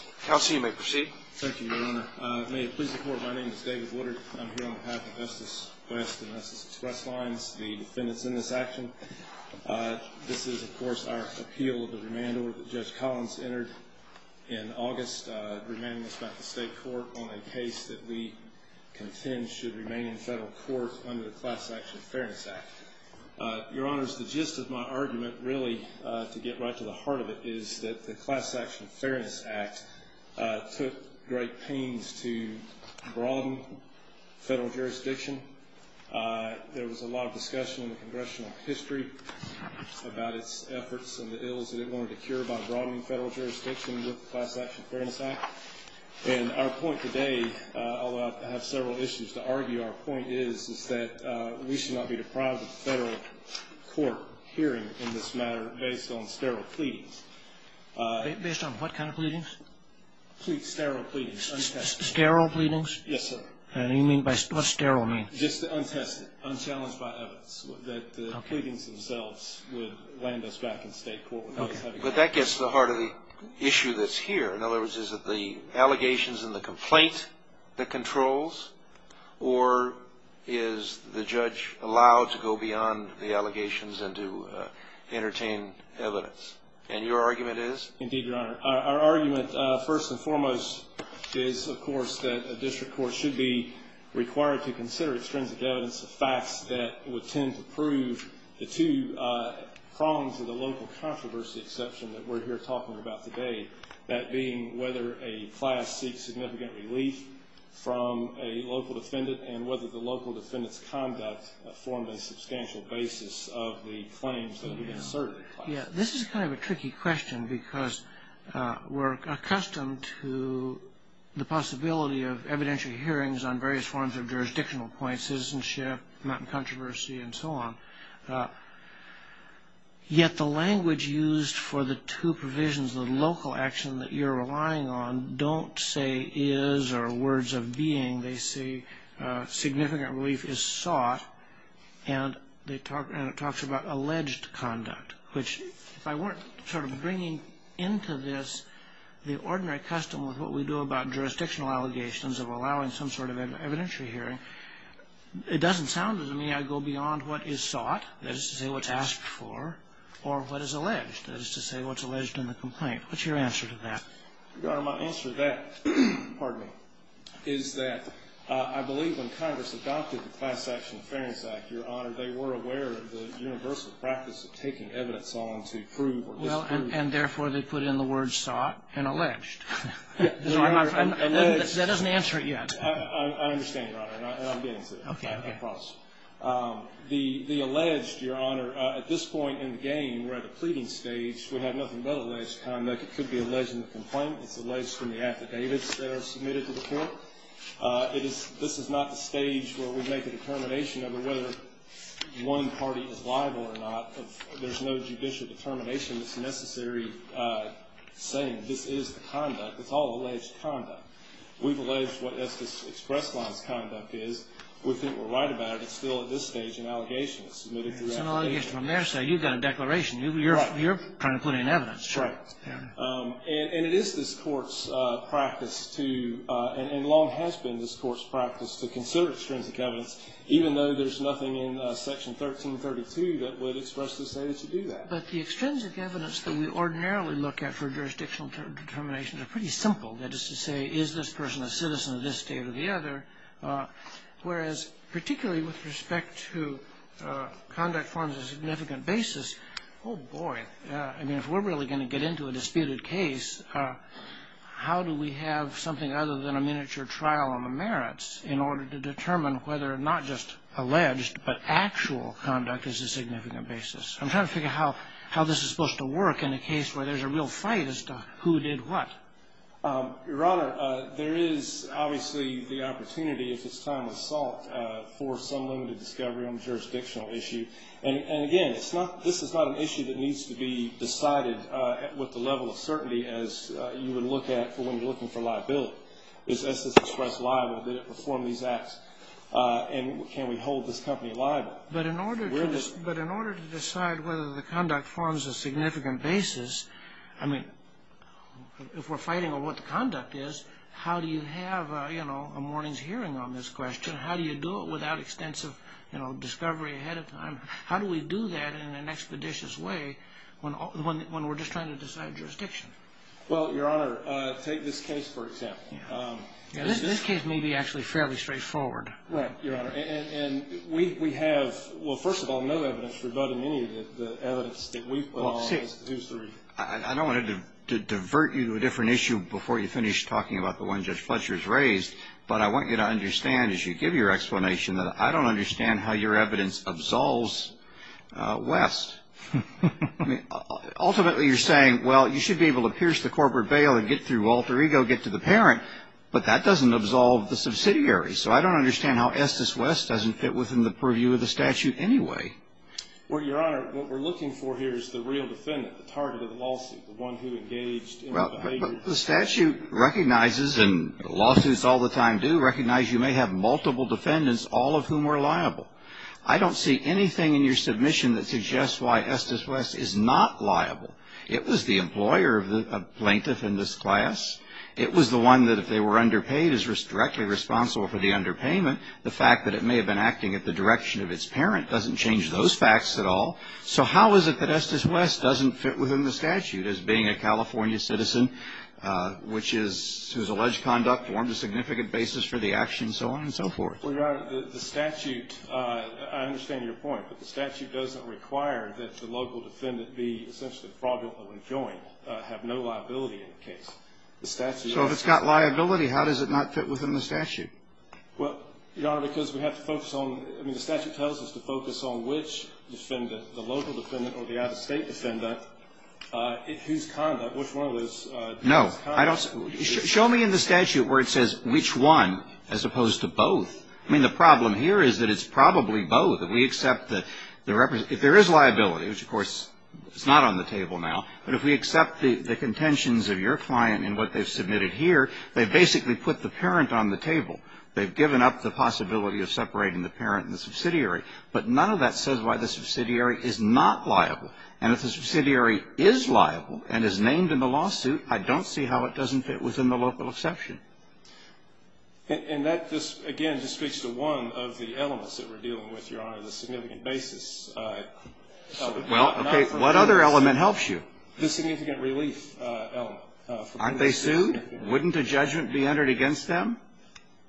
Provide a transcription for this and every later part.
Thank you, Your Honor. May it please the Court, my name is David Woodard. I'm here on behalf of Estes West and Estes Express Lines, the defendants in this action. This is, of course, our appeal of the remand order that Judge Collins entered in August reminding us about the state court on a case that we contend should remain in federal court under the Class Action Fairness Act. Your Honor, the gist of my argument, really, to get right to the heart of it, is that the Class Action Fairness Act took great pains to broaden federal jurisdiction. There was a lot of discussion in the Congressional history about its efforts and the ills that it wanted to cure by broadening federal jurisdiction with the Class Action Fairness Act. And our point today, although I have several issues to argue, our point is, is that we should not be deprived of federal court hearing in this matter based on sterile pleadings. Based on what kind of pleadings? Sterile pleadings, untested. Sterile pleadings? Yes, sir. And you mean by, what does sterile mean? Just untested, unchallenged by evidence, that the pleadings themselves would land us back in state court. But that gets to the heart of the issue that's here. In other words, is it the allegations and the complaint that controls, or is the judge allowed to go beyond the allegations and to entertain evidence? And your argument is? Indeed, Your Honor. Our argument, first and foremost, is, of course, that a district court should be required to consider extrinsic evidence of facts that would tend to prove the two prongs of the local controversy exception that we're here talking about today. That being whether a class seeks significant relief from a local defendant and whether the local defendant's conduct formed a substantial basis of the claims that have been asserted. Yeah, this is kind of a tricky question because we're accustomed to the possibility of evidentiary hearings on various forms of jurisdictional points, citizenship, mountain controversy, and so on. Yet the language used for the two provisions, the local action that you're relying on, don't say is or words of being. They say significant relief is sought, and it talks about alleged conduct, which if I weren't sort of bringing into this the ordinary custom with what we do about jurisdictional allegations of allowing some sort of evidentiary hearing, it doesn't sound to me I go beyond what is sought, that is to say what's asked for, or what is alleged, that is to say what's alleged in the complaint. What's your answer to that? Your Honor, my answer to that, pardon me, is that I believe when Congress adopted the Class Action Affairs Act, Your Honor, they were aware of the universal practice of taking evidence on to prove or disprove. Well, and therefore, they put in the word sought and alleged. So I'm not sure. Alleged. That doesn't answer it yet. I understand, Your Honor, and I'm getting to it. Okay. I promise. The alleged, Your Honor, at this point in the game, we're at the pleading stage. We have nothing but alleged conduct. It could be alleged in the complaint. It's alleged in the affidavits that are submitted to the court. This is not the stage where we make a determination over whether one party is liable or not. There's no judicial determination that's necessary saying this is the conduct. It's all alleged conduct. We've alleged what Estes Express Line's conduct is. We think we're right about it. It's still, at this stage, an allegation that's submitted throughout the case. It's an allegation from their side. You've got a declaration. Right. You're trying to put in evidence. Right. And it is this Court's practice to, and long has been this Court's practice, to consider extrinsic evidence, even though there's nothing in Section 1332 that would expressly say that you do that. But the extrinsic evidence that we ordinarily look at for jurisdictional determinations are pretty simple. That is to say, is this person a citizen of this state or the other? Whereas, particularly with respect to conduct formed as a significant basis, oh, boy. I mean, if we're really going to get into a disputed case, how do we have something other than a miniature trial on the merits in order to determine whether not just alleged but actual conduct is a significant basis? I'm trying to figure out how this is supposed to work in a case where there's a real fight as to who did what. Your Honor, there is obviously the opportunity, if it's time of assault, for some limited discovery on a jurisdictional issue. And, again, it's not this is not an issue that needs to be decided with the level of certainty as you would look at for when you're looking for liability. Is this express liable? Did it perform these acts? And can we hold this company liable? But in order to decide whether the conduct forms a significant basis, I mean, if we're fighting on what the conduct is, how do you have, you know, a morning's hearing on this question? How do you do it without extensive, you know, discovery ahead of time? How do we do that in an expeditious way when we're just trying to decide jurisdiction? Well, Your Honor, take this case, for example. This case may be actually fairly straightforward. Right, Your Honor. And we have, well, first of all, no evidence rebutting any of the evidence that we've put on this case. I don't want to divert you to a different issue before you finish talking about the one Judge Fletcher has raised, but I want you to understand as you give your explanation that I don't understand how your evidence absolves West. I mean, ultimately you're saying, well, you should be able to pierce the corporate bail and get through alter ego, get to the parent, but that doesn't absolve the subsidiary. So I don't understand how Estes West doesn't fit within the purview of the statute anyway. Well, Your Honor, what we're looking for here is the real defendant, the target of the lawsuit, the one who engaged in the behavior. Well, the statute recognizes, and lawsuits all the time do, recognize you may have multiple defendants, all of whom are liable. I don't see anything in your submission that suggests why Estes West is not liable. It was the employer of the plaintiff in this class. It was the one that if they were underpaid is directly responsible for the underpayment. The fact that it may have been acting at the direction of its parent doesn't change those facts at all. So how is it that Estes West doesn't fit within the statute as being a California citizen, whose alleged conduct formed a significant basis for the action, so on and so forth? Well, Your Honor, the statute, I understand your point, but the statute doesn't require that the local defendant be essentially fraudulently joined, have no liability in the case. So if it's got liability, how does it not fit within the statute? Well, Your Honor, because we have to focus on, I mean, the statute tells us to focus on which defendant, the local defendant or the out-of-state defendant, whose conduct, which one of those. No. Show me in the statute where it says which one as opposed to both. I mean, the problem here is that it's probably both. If we accept the, if there is liability, which, of course, is not on the table now, but if we accept the contentions of your client and what they've submitted here, they've basically put the parent on the table. They've given up the possibility of separating the parent and the subsidiary. But none of that says why the subsidiary is not liable. And if the subsidiary is liable and is named in the lawsuit, I don't see how it doesn't fit within the local exception. And that just, again, just speaks to one of the elements that we're dealing with, Your Honor, on a significant basis. Well, okay. What other element helps you? The significant relief element. Aren't they sued? Wouldn't a judgment be entered against them?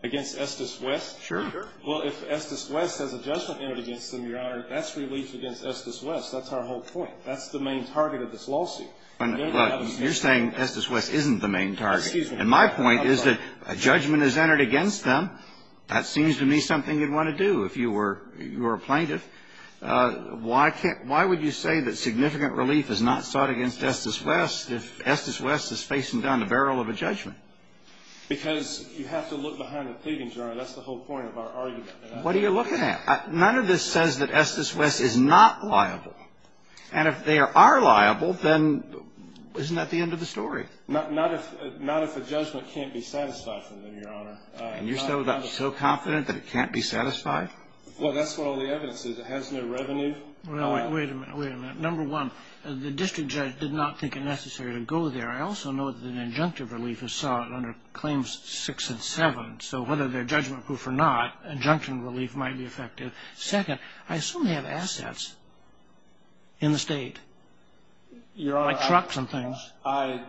Against Estes West? Sure. Well, if Estes West has a judgment entered against them, Your Honor, that's relief against Estes West. That's our whole point. That's the main target of this lawsuit. You're saying Estes West isn't the main target. And my point is that a judgment is entered against them. That seems to me something you'd want to do if you were a plaintiff. Why would you say that significant relief is not sought against Estes West if Estes West is facing down the barrel of a judgment? Because you have to look behind the pleading, Your Honor. That's the whole point of our argument. What are you looking at? None of this says that Estes West is not liable. And if they are liable, then isn't that the end of the story? Not if a judgment can't be satisfied for them, Your Honor. And you're so confident that it can't be satisfied? Well, that's what all the evidence is. It has no revenue. Wait a minute. Wait a minute. Number one, the district judge did not think it necessary to go there. I also know that an injunctive relief is sought under Claims 6 and 7. So whether they're judgment-proof or not, injunction relief might be effective. Second, I assume they have assets in the state, like trucks and things. I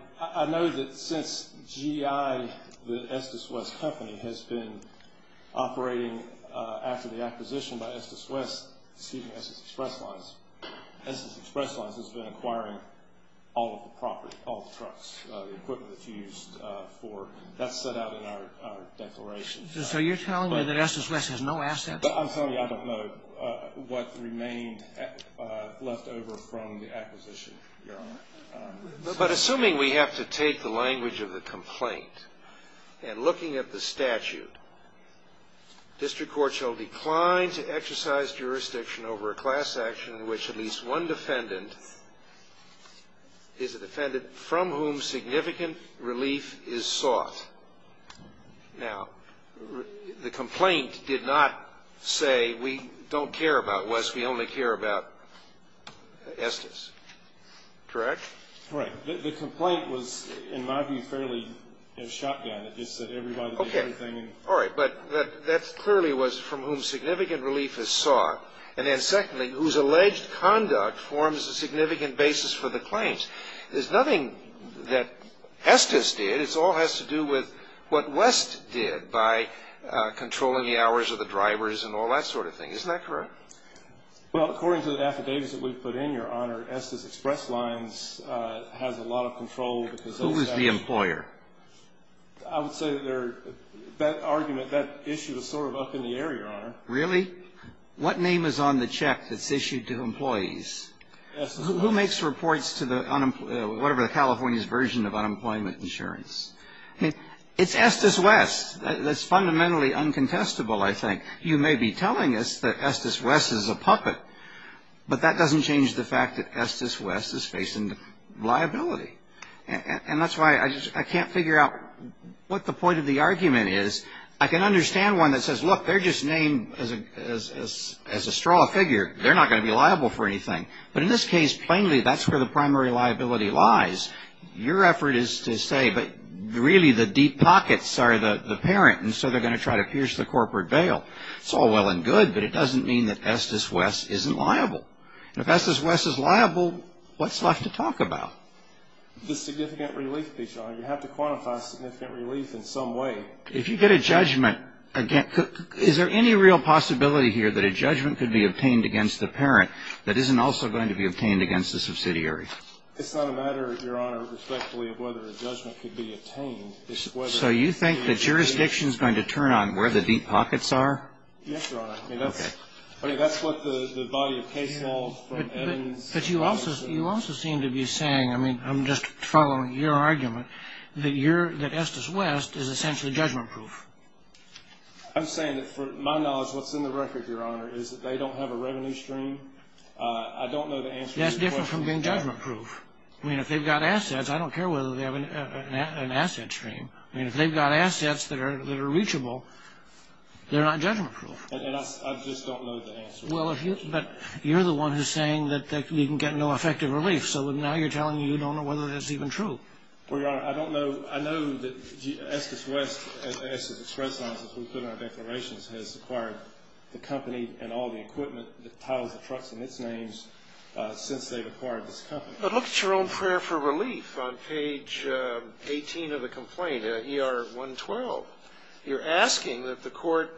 know that since GI, the Estes West company, has been operating after the acquisition by Estes West, excuse me, Estes Express Lines, Estes Express Lines has been acquiring all of the property, all the trucks, the equipment that's used for it. That's set out in our declaration. So you're telling me that Estes West has no assets? I'm telling you I don't know what remained left over from the acquisition, Your Honor. But assuming we have to take the language of the complaint and looking at the statute, district court shall decline to exercise jurisdiction over a class action in which at least one defendant is a defendant from whom significant relief is sought. Now, the complaint did not say we don't care about West, we only care about Estes. Correct? Right. The complaint was, in my view, fairly shot down. It just said everybody did everything. Okay. All right. But that clearly was from whom significant relief is sought. And then secondly, whose alleged conduct forms a significant basis for the claims. There's nothing that Estes did. It all has to do with what West did by controlling the hours of the drivers and all that sort of thing. Isn't that correct? Well, according to the affidavits that we've put in, Your Honor, Estes Express Lines has a lot of control. Who is the employer? I would say that argument, that issue is sort of up in the air, Your Honor. Really? What name is on the check that's issued to employees? Estes West. Who makes reports to the California's version of unemployment insurance? It's Estes West. That's fundamentally uncontestable, I think. You may be telling us that Estes West is a puppet, but that doesn't change the fact that Estes West is facing liability. And that's why I can't figure out what the point of the argument is. I can understand one that says, look, they're just named as a straw figure. They're not going to be liable for anything. But in this case, plainly, that's where the primary liability lies. Your effort is to say, but really the deep pockets are the parent, and so they're going to try to pierce the corporate veil. It's all well and good, but it doesn't mean that Estes West isn't liable. If Estes West is liable, what's left to talk about? The significant relief, Your Honor. You have to quantify significant relief in some way. If you get a judgment, is there any real possibility here that a judgment could be obtained against the parent that isn't also going to be obtained against the subsidiary? It's not a matter, Your Honor, respectfully, of whether a judgment could be obtained. So you think that jurisdiction is going to turn on where the deep pockets are? Yes, Your Honor. Okay. I mean, that's what the body of case law from Evans and Robertson. But you also seem to be saying, I mean, I'm just following your argument, that Estes West is essentially judgment-proof. I'm saying that, for my knowledge, what's in the record, Your Honor, is that they don't have a revenue stream. I don't know the answer to your question. It's different from being judgment-proof. I mean, if they've got assets, I don't care whether they have an asset stream. I mean, if they've got assets that are reachable, they're not judgment-proof. And I just don't know the answer. Well, but you're the one who's saying that you can get no effective relief, so now you're telling me you don't know whether that's even true. Well, Your Honor, I don't know. I know that Estes West, as we put in our declarations, has acquired the company and all the equipment, the tiles, the trucks, and its names since they've acquired this company. But look at your own prayer for relief on page 18 of the complaint, ER 112. You're asking that the court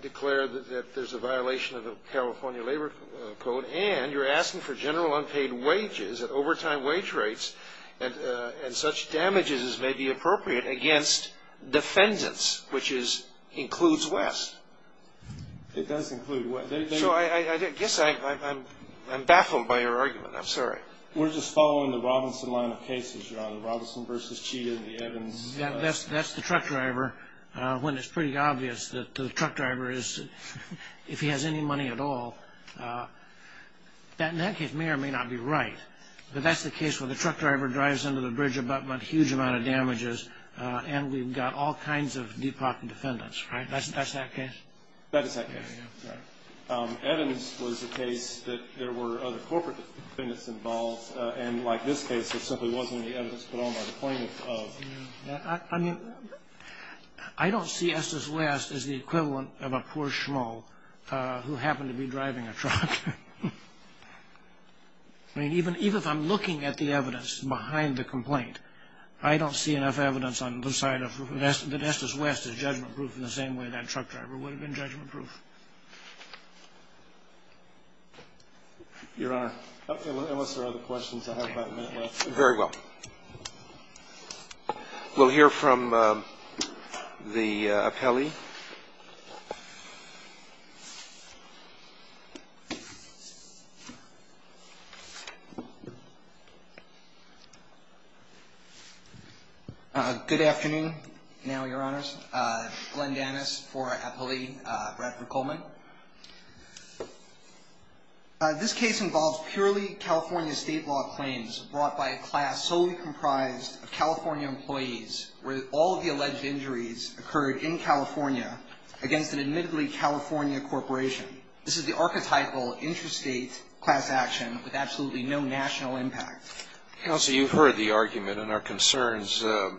declare that there's a violation of the California Labor Code, and you're asking for general unpaid wages at overtime wage rates and such damages as may be appropriate against defendants, which includes West. It does include West. So I guess I'm baffled by your argument. I'm sorry. We're just following the Robinson line of cases, Your Honor. Robinson v. Chita and the Evans. That's the truck driver, when it's pretty obvious that the truck driver is, if he has any money at all. That, in that case, may or may not be right. But that's the case where the truck driver drives into the bridge about a huge amount of damages, and we've got all kinds of depopped defendants, right? That's that case? That is that case. Evans was the case that there were other corporate defendants involved, and like this case, there simply wasn't any evidence put on by the plaintiff of that. I mean, I don't see Estes West as the equivalent of a poor schmo who happened to be driving a truck. I mean, even if I'm looking at the evidence behind the complaint, I don't see enough evidence on the side of Estes West as judgment-proof in the same way that truck driver would have been judgment-proof. Your Honor. Unless there are other questions, I have about a minute left. Very well. We'll hear from the appellee. Good afternoon. Good afternoon now, Your Honors. Glenn Dannis for our appellee, Bradford Coleman. This case involves purely California state law claims brought by a class solely comprised of California employees where all of the alleged injuries occurred in California against an admittedly California corporation. This is the archetypal interstate class action with absolutely no national impact. Counsel, you've heard the argument and our concerns. Of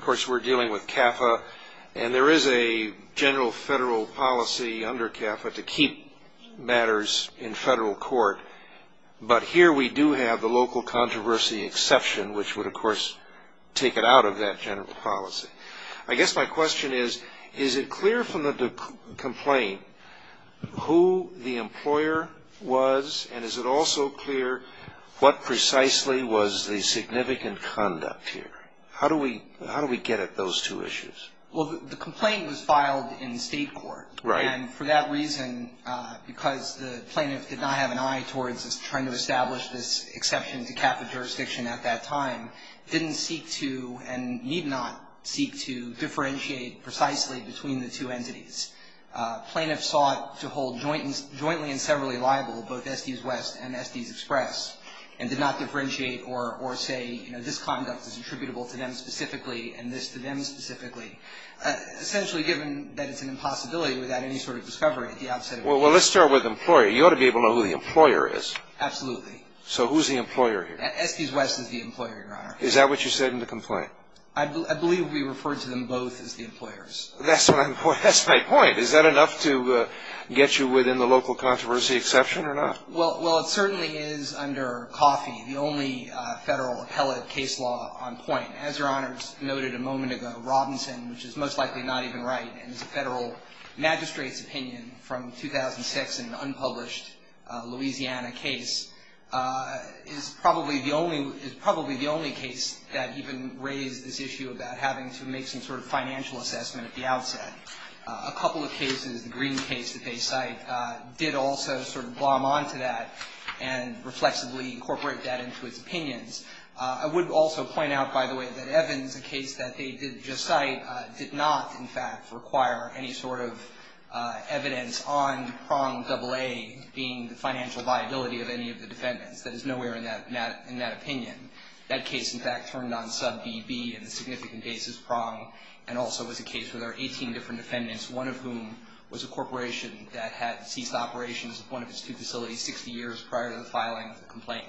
course, we're dealing with CAFA, and there is a general federal policy under CAFA to keep matters in federal court. But here we do have the local controversy exception, which would, of course, take it out of that general policy. I guess my question is, is it clear from the complaint who the employer was, and is it also clear what precisely was the significant conduct here? How do we get at those two issues? Well, the complaint was filed in state court. Right. And for that reason, because the plaintiff did not have an eye towards trying to establish this exception to CAFA jurisdiction at that time, didn't seek to and need not seek to differentiate precisely between the two entities. Plaintiffs sought to hold jointly and severally liable both Estes West and Estes Express, and did not differentiate or say, you know, this conduct is attributable to them specifically and this to them specifically. Essentially, given that it's an impossibility without any sort of discovery at the outset. Well, let's start with employer. You ought to be able to know who the employer is. Absolutely. So who's the employer here? Estes West is the employer, Your Honor. Is that what you said in the complaint? I believe we referred to them both as the employers. That's my point. Is that enough to get you within the local controversy exception or not? Well, it certainly is under COFI, the only federal appellate case law on point. As Your Honors noted a moment ago, Robinson, which is most likely not even right, and is a federal magistrate's opinion from 2006 in an unpublished Louisiana case, is probably the only case that even raised this issue about having to make some sort of financial assessment at the outset. A couple of cases, the Green case that they cite, did also sort of glom onto that and reflexively incorporate that into its opinions. I would also point out, by the way, that Evans, a case that they did just cite, did not, in fact, require any sort of evidence on prong AA being the financial liability of any of the defendants. That is nowhere in that opinion. That case, in fact, turned on sub BB in a significant basis prong and also was a case where there were 18 different defendants, one of whom was a corporation that had ceased operations of one of its two facilities 60 years prior to the filing of the complaint,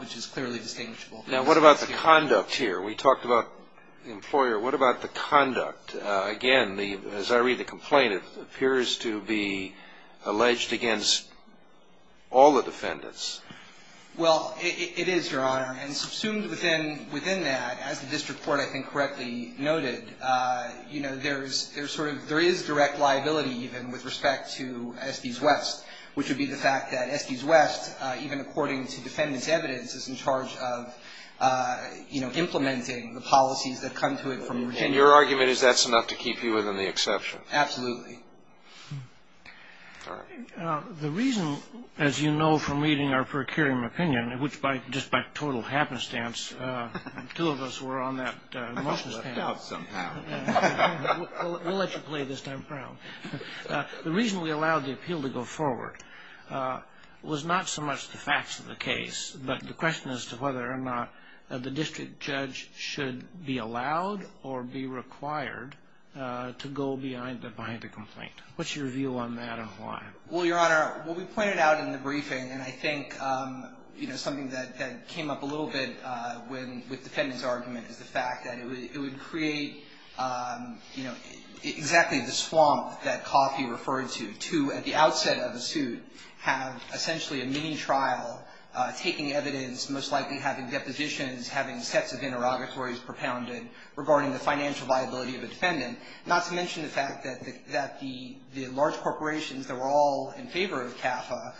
which is clearly distinguishable. Now, what about the conduct here? We talked about the employer. What about the conduct? Again, as I read the complaint, it appears to be alleged against all the defendants. Well, it is, Your Honor. And subsumed within that, as the district court, I think, correctly noted, you know, there is direct liability even with respect to Estes West, which would be the fact that Estes West, even according to defendant's evidence, is in charge of, you know, implementing the policies that come to it from Virginia. And your argument is that's enough to keep you within the exception? Absolutely. All right. The reason, as you know from reading our procuring opinion, which, just by total happenstance, the two of us were on that motion stand. We'll let you play this time, Crown. The reason we allowed the appeal to go forward was not so much the facts of the case, but the question as to whether or not the district judge should be allowed or be required to go behind the complaint. What's your view on that and why? Well, Your Honor, what we pointed out in the briefing, and I think, you know, something that came up a little bit with the defendant's argument is the fact that it would create, you know, exactly the swamp that Coffey referred to, to, at the outset of the suit, have essentially a mini-trial taking evidence, most likely having depositions, having sets of interrogatories propounded regarding the financial liability of a defendant, not to mention the fact that the large corporations that were all in favor of CAFA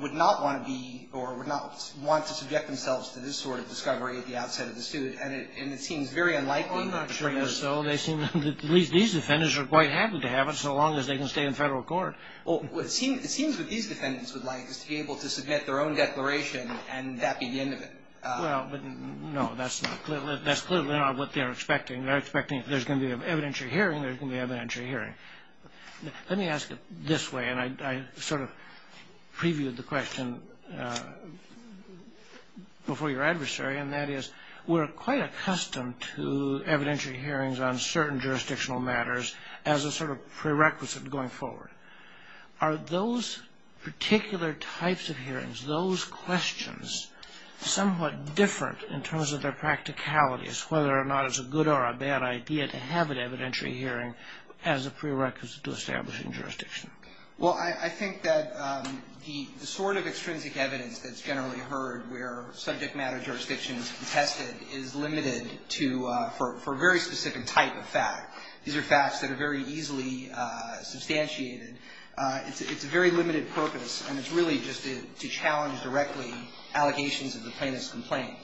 would not want to be or would not want to subject themselves to this sort of discovery at the outset of the suit. And it seems very unlikely. Well, I'm not sure it is so. At least these defendants are quite happy to have it so long as they can stay in Federal court. Well, it seems what these defendants would like is to be able to submit their own declaration and that be the end of it. Well, no, that's clearly not what they're expecting. They're expecting if there's going to be an evidentiary hearing, there's going to be an evidentiary hearing. Let me ask it this way, and I sort of previewed the question before your adversary, and that is we're quite accustomed to evidentiary hearings on certain jurisdictional matters as a sort of prerequisite going forward. Are those particular types of hearings, those questions, somewhat different in terms of their practicalities, whether or not it's a good or a bad idea to have an evidentiary hearing as a prerequisite to establishing jurisdiction? Well, I think that the sort of extrinsic evidence that's generally heard where subject matter jurisdiction is contested is limited to a very specific type of fact. These are facts that are very easily substantiated. It's a very limited purpose, and it's really just to challenge directly allegations of the plaintiff's complaint.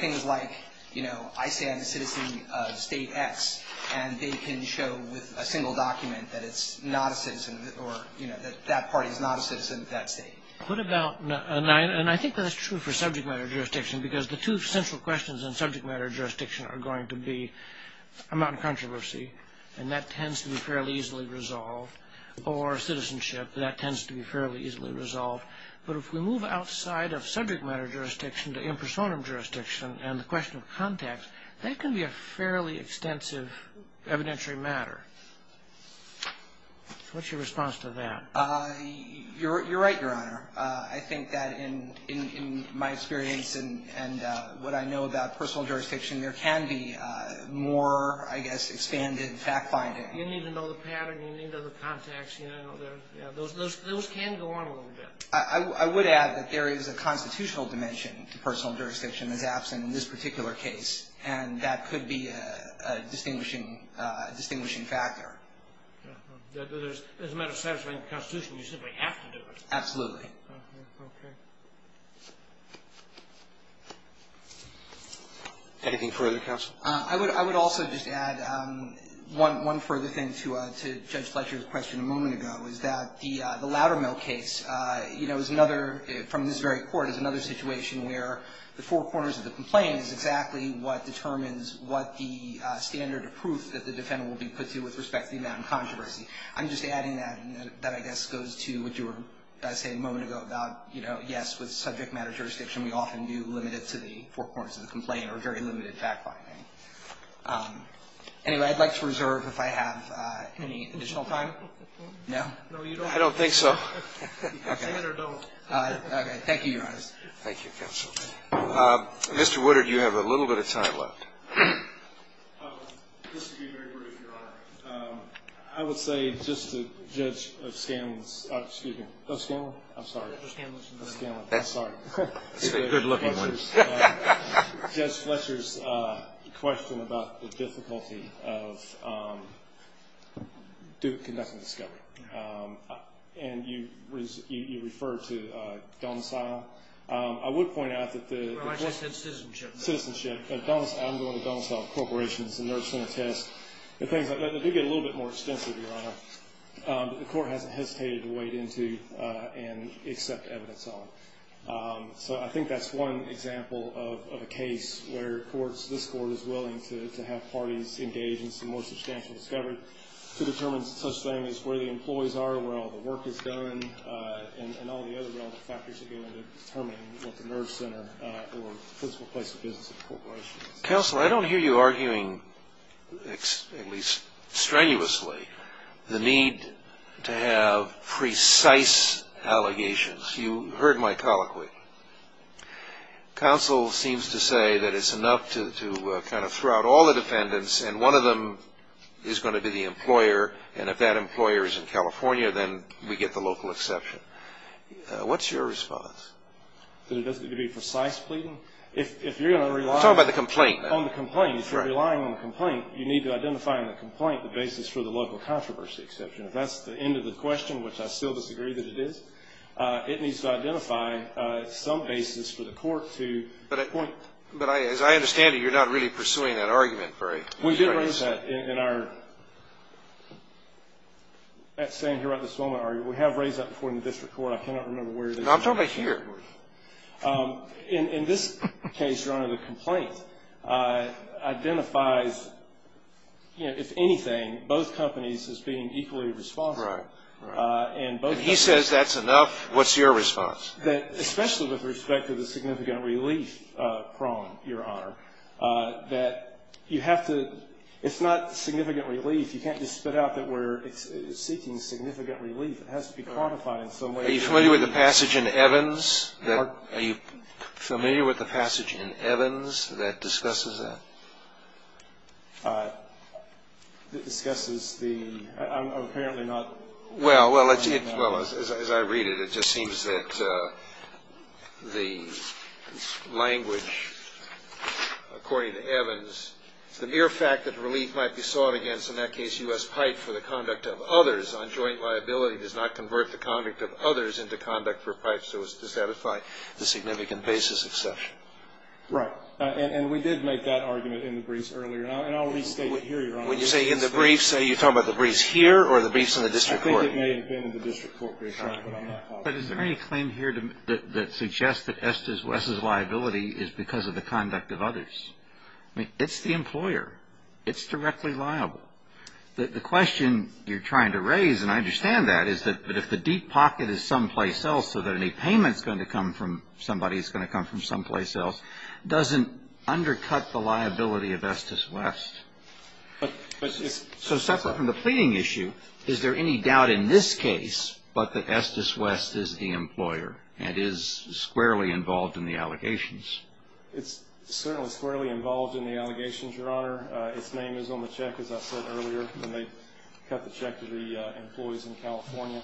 Things like, you know, I say I'm a citizen of State X, and they can show with a single document that it's not a citizen or, you know, that that party is not a citizen of that state. Put about a nine, and I think that's true for subject matter jurisdiction because the two central questions in subject matter jurisdiction are going to be amount of controversy, and that tends to be fairly easily resolved, or citizenship, that tends to be fairly easily resolved. But if we move outside of subject matter jurisdiction to impersonum jurisdiction and the question of context, that can be a fairly extensive evidentiary matter. What's your response to that? You're right, Your Honor. I think that in my experience and what I know about personal jurisdiction, there can be more, I guess, expanded fact-finding. You need to know the pattern. You need other contacts. You know, those can go on a little bit. I would add that there is a constitutional dimension to personal jurisdiction that's absent in this particular case, and that could be a distinguishing factor. As a matter of satisfying the Constitution, you simply have to do it. Absolutely. Okay. Anything further, counsel? I would also just add one further thing to Judge Fletcher's question a moment ago, is that the Loudermill case, you know, is another, from this very court, is another situation where the four corners of the complaint is exactly what determines what the standard of proof that the defendant will be put to with respect to the amount of controversy. I'm just adding that. That, I guess, goes to what you were saying a moment ago about, you know, yes, with subject matter jurisdiction we often do limit it to the four corners of the complaint or very limited fact-finding. Anyway, I'd like to reserve, if I have any additional time. No? No, you don't. I don't think so. Okay. Say it or don't. Okay. Thank you, Your Honor. Thank you, counsel. Mr. Woodard, you have a little bit of time left. Just to be very brief, Your Honor, I would say just to Judge Scanlon's — excuse me. Oh, Scanlon? I'm sorry. Judge Scanlon. I'm sorry. He's a good-looking one. Judge Fletcher's question about the difficulty of conducting discovery. And you referred to domicile. I would point out that the — Well, I just said citizenship. Citizenship. I'm going with domicile, corporations, the nursing test, the things like that. They do get a little bit more extensive, Your Honor. The Court hasn't hesitated to wade into and accept evidence on. So I think that's one example of a case where this Court is willing to have parties engage in some more substantial discovery to determine such things as where the employees are, where all the work is done, and all the other relevant factors to be able to determine what the nurse center or principal place of business of the corporation is. Counsel, I don't hear you arguing, at least strenuously, the need to have precise allegations. You heard my colloquy. Counsel seems to say that it's enough to kind of throw out all the defendants, and one of them is going to be the employer, and if that employer is in California, then we get the local exception. What's your response? That it doesn't need to be precise pleading? If you're going to rely on the complaint, if you're relying on the complaint, you need to identify in the complaint the basis for the local controversy exception. If that's the end of the question, which I still disagree that it is, it needs to identify some basis for the Court to point. But as I understand it, you're not really pursuing that argument for a case. We did raise that in our at this moment. We have raised that before in the district court. I cannot remember where it is. I'm talking about here. In this case, Your Honor, the complaint identifies, if anything, both companies as being equally responsible. Right. If he says that's enough, what's your response? Especially with respect to the significant relief prong, Your Honor, that you have to – it's not significant relief. You can't just spit out that we're seeking significant relief. It has to be quantified in some way. Are you familiar with the passage in Evans that discusses that? That discusses the – apparently not. Well, as I read it, it just seems that the language according to Evans, the mere fact that relief might be sought against, in that case, U.S. pipe for the conduct of others on joint liability does not convert the conduct of others into conduct for pipes. So does that apply to the significant basis exception? Right. And we did make that argument in the briefs earlier. And I'll restate it here, Your Honor. When you say in the briefs, are you talking about the briefs here or the briefs in the district court? I think it may have been in the district court brief, Your Honor, but I'm not positive. But is there any claim here that suggests that Estes West's liability is because of the conduct of others? I mean, it's the employer. It's directly liable. The question you're trying to raise, and I understand that, is that if the deep pocket is someplace else so that any payment is going to come from somebody is going to come from someplace else, doesn't undercut the liability of Estes West. So separate from the pleading issue, is there any doubt in this case that Estes West is the employer and is squarely involved in the allegations? It's certainly squarely involved in the allegations, Your Honor. Its name is on the check, as I said earlier, when they cut the check to the employees in California.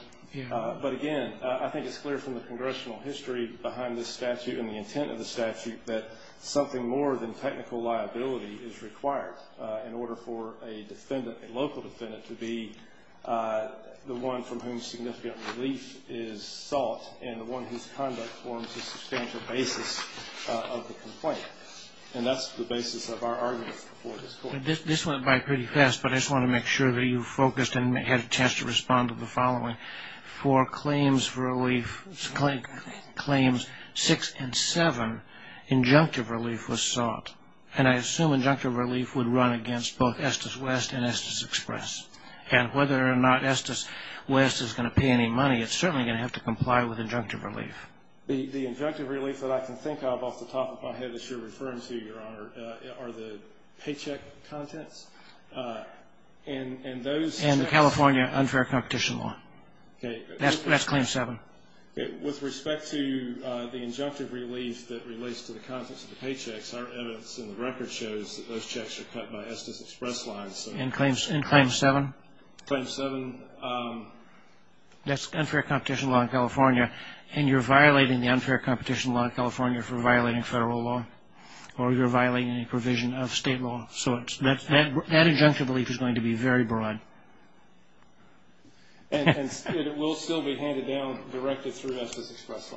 But again, I think it's clear from the congressional history behind this statute and the intent of the statute that something more than technical liability is required in order for a defendant, a local defendant, to be the one from whom significant relief is sought and the one whose conduct forms the substantial basis of the complaint. And that's the basis of our argument for this court. This went by pretty fast, but I just want to make sure that you focused and had a chance to respond to the following. For claims relief, claims 6 and 7, injunctive relief was sought. And I assume injunctive relief would run against both Estes West and Estes Express. And whether or not Estes West is going to pay any money, it's certainly going to have to comply with injunctive relief. The injunctive relief that I can think of off the top of my head that you're referring to, Your Honor, are the paycheck contents. And California unfair competition law. That's claim 7. With respect to the injunctive relief that relates to the contents of the paychecks, our evidence in the record shows that those checks are cut by Estes Express lines. And claim 7? Claim 7. That's unfair competition law in California. And you're violating the unfair competition law in California for violating federal law. Or you're violating a provision of state law. So that injunctive relief is going to be very broad. And it will still be handed down, directed through Estes Express.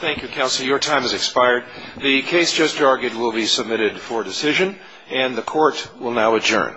Thank you, Counselor. Your time has expired. The case just argued will be submitted for decision. And the court will now adjourn. Thank you.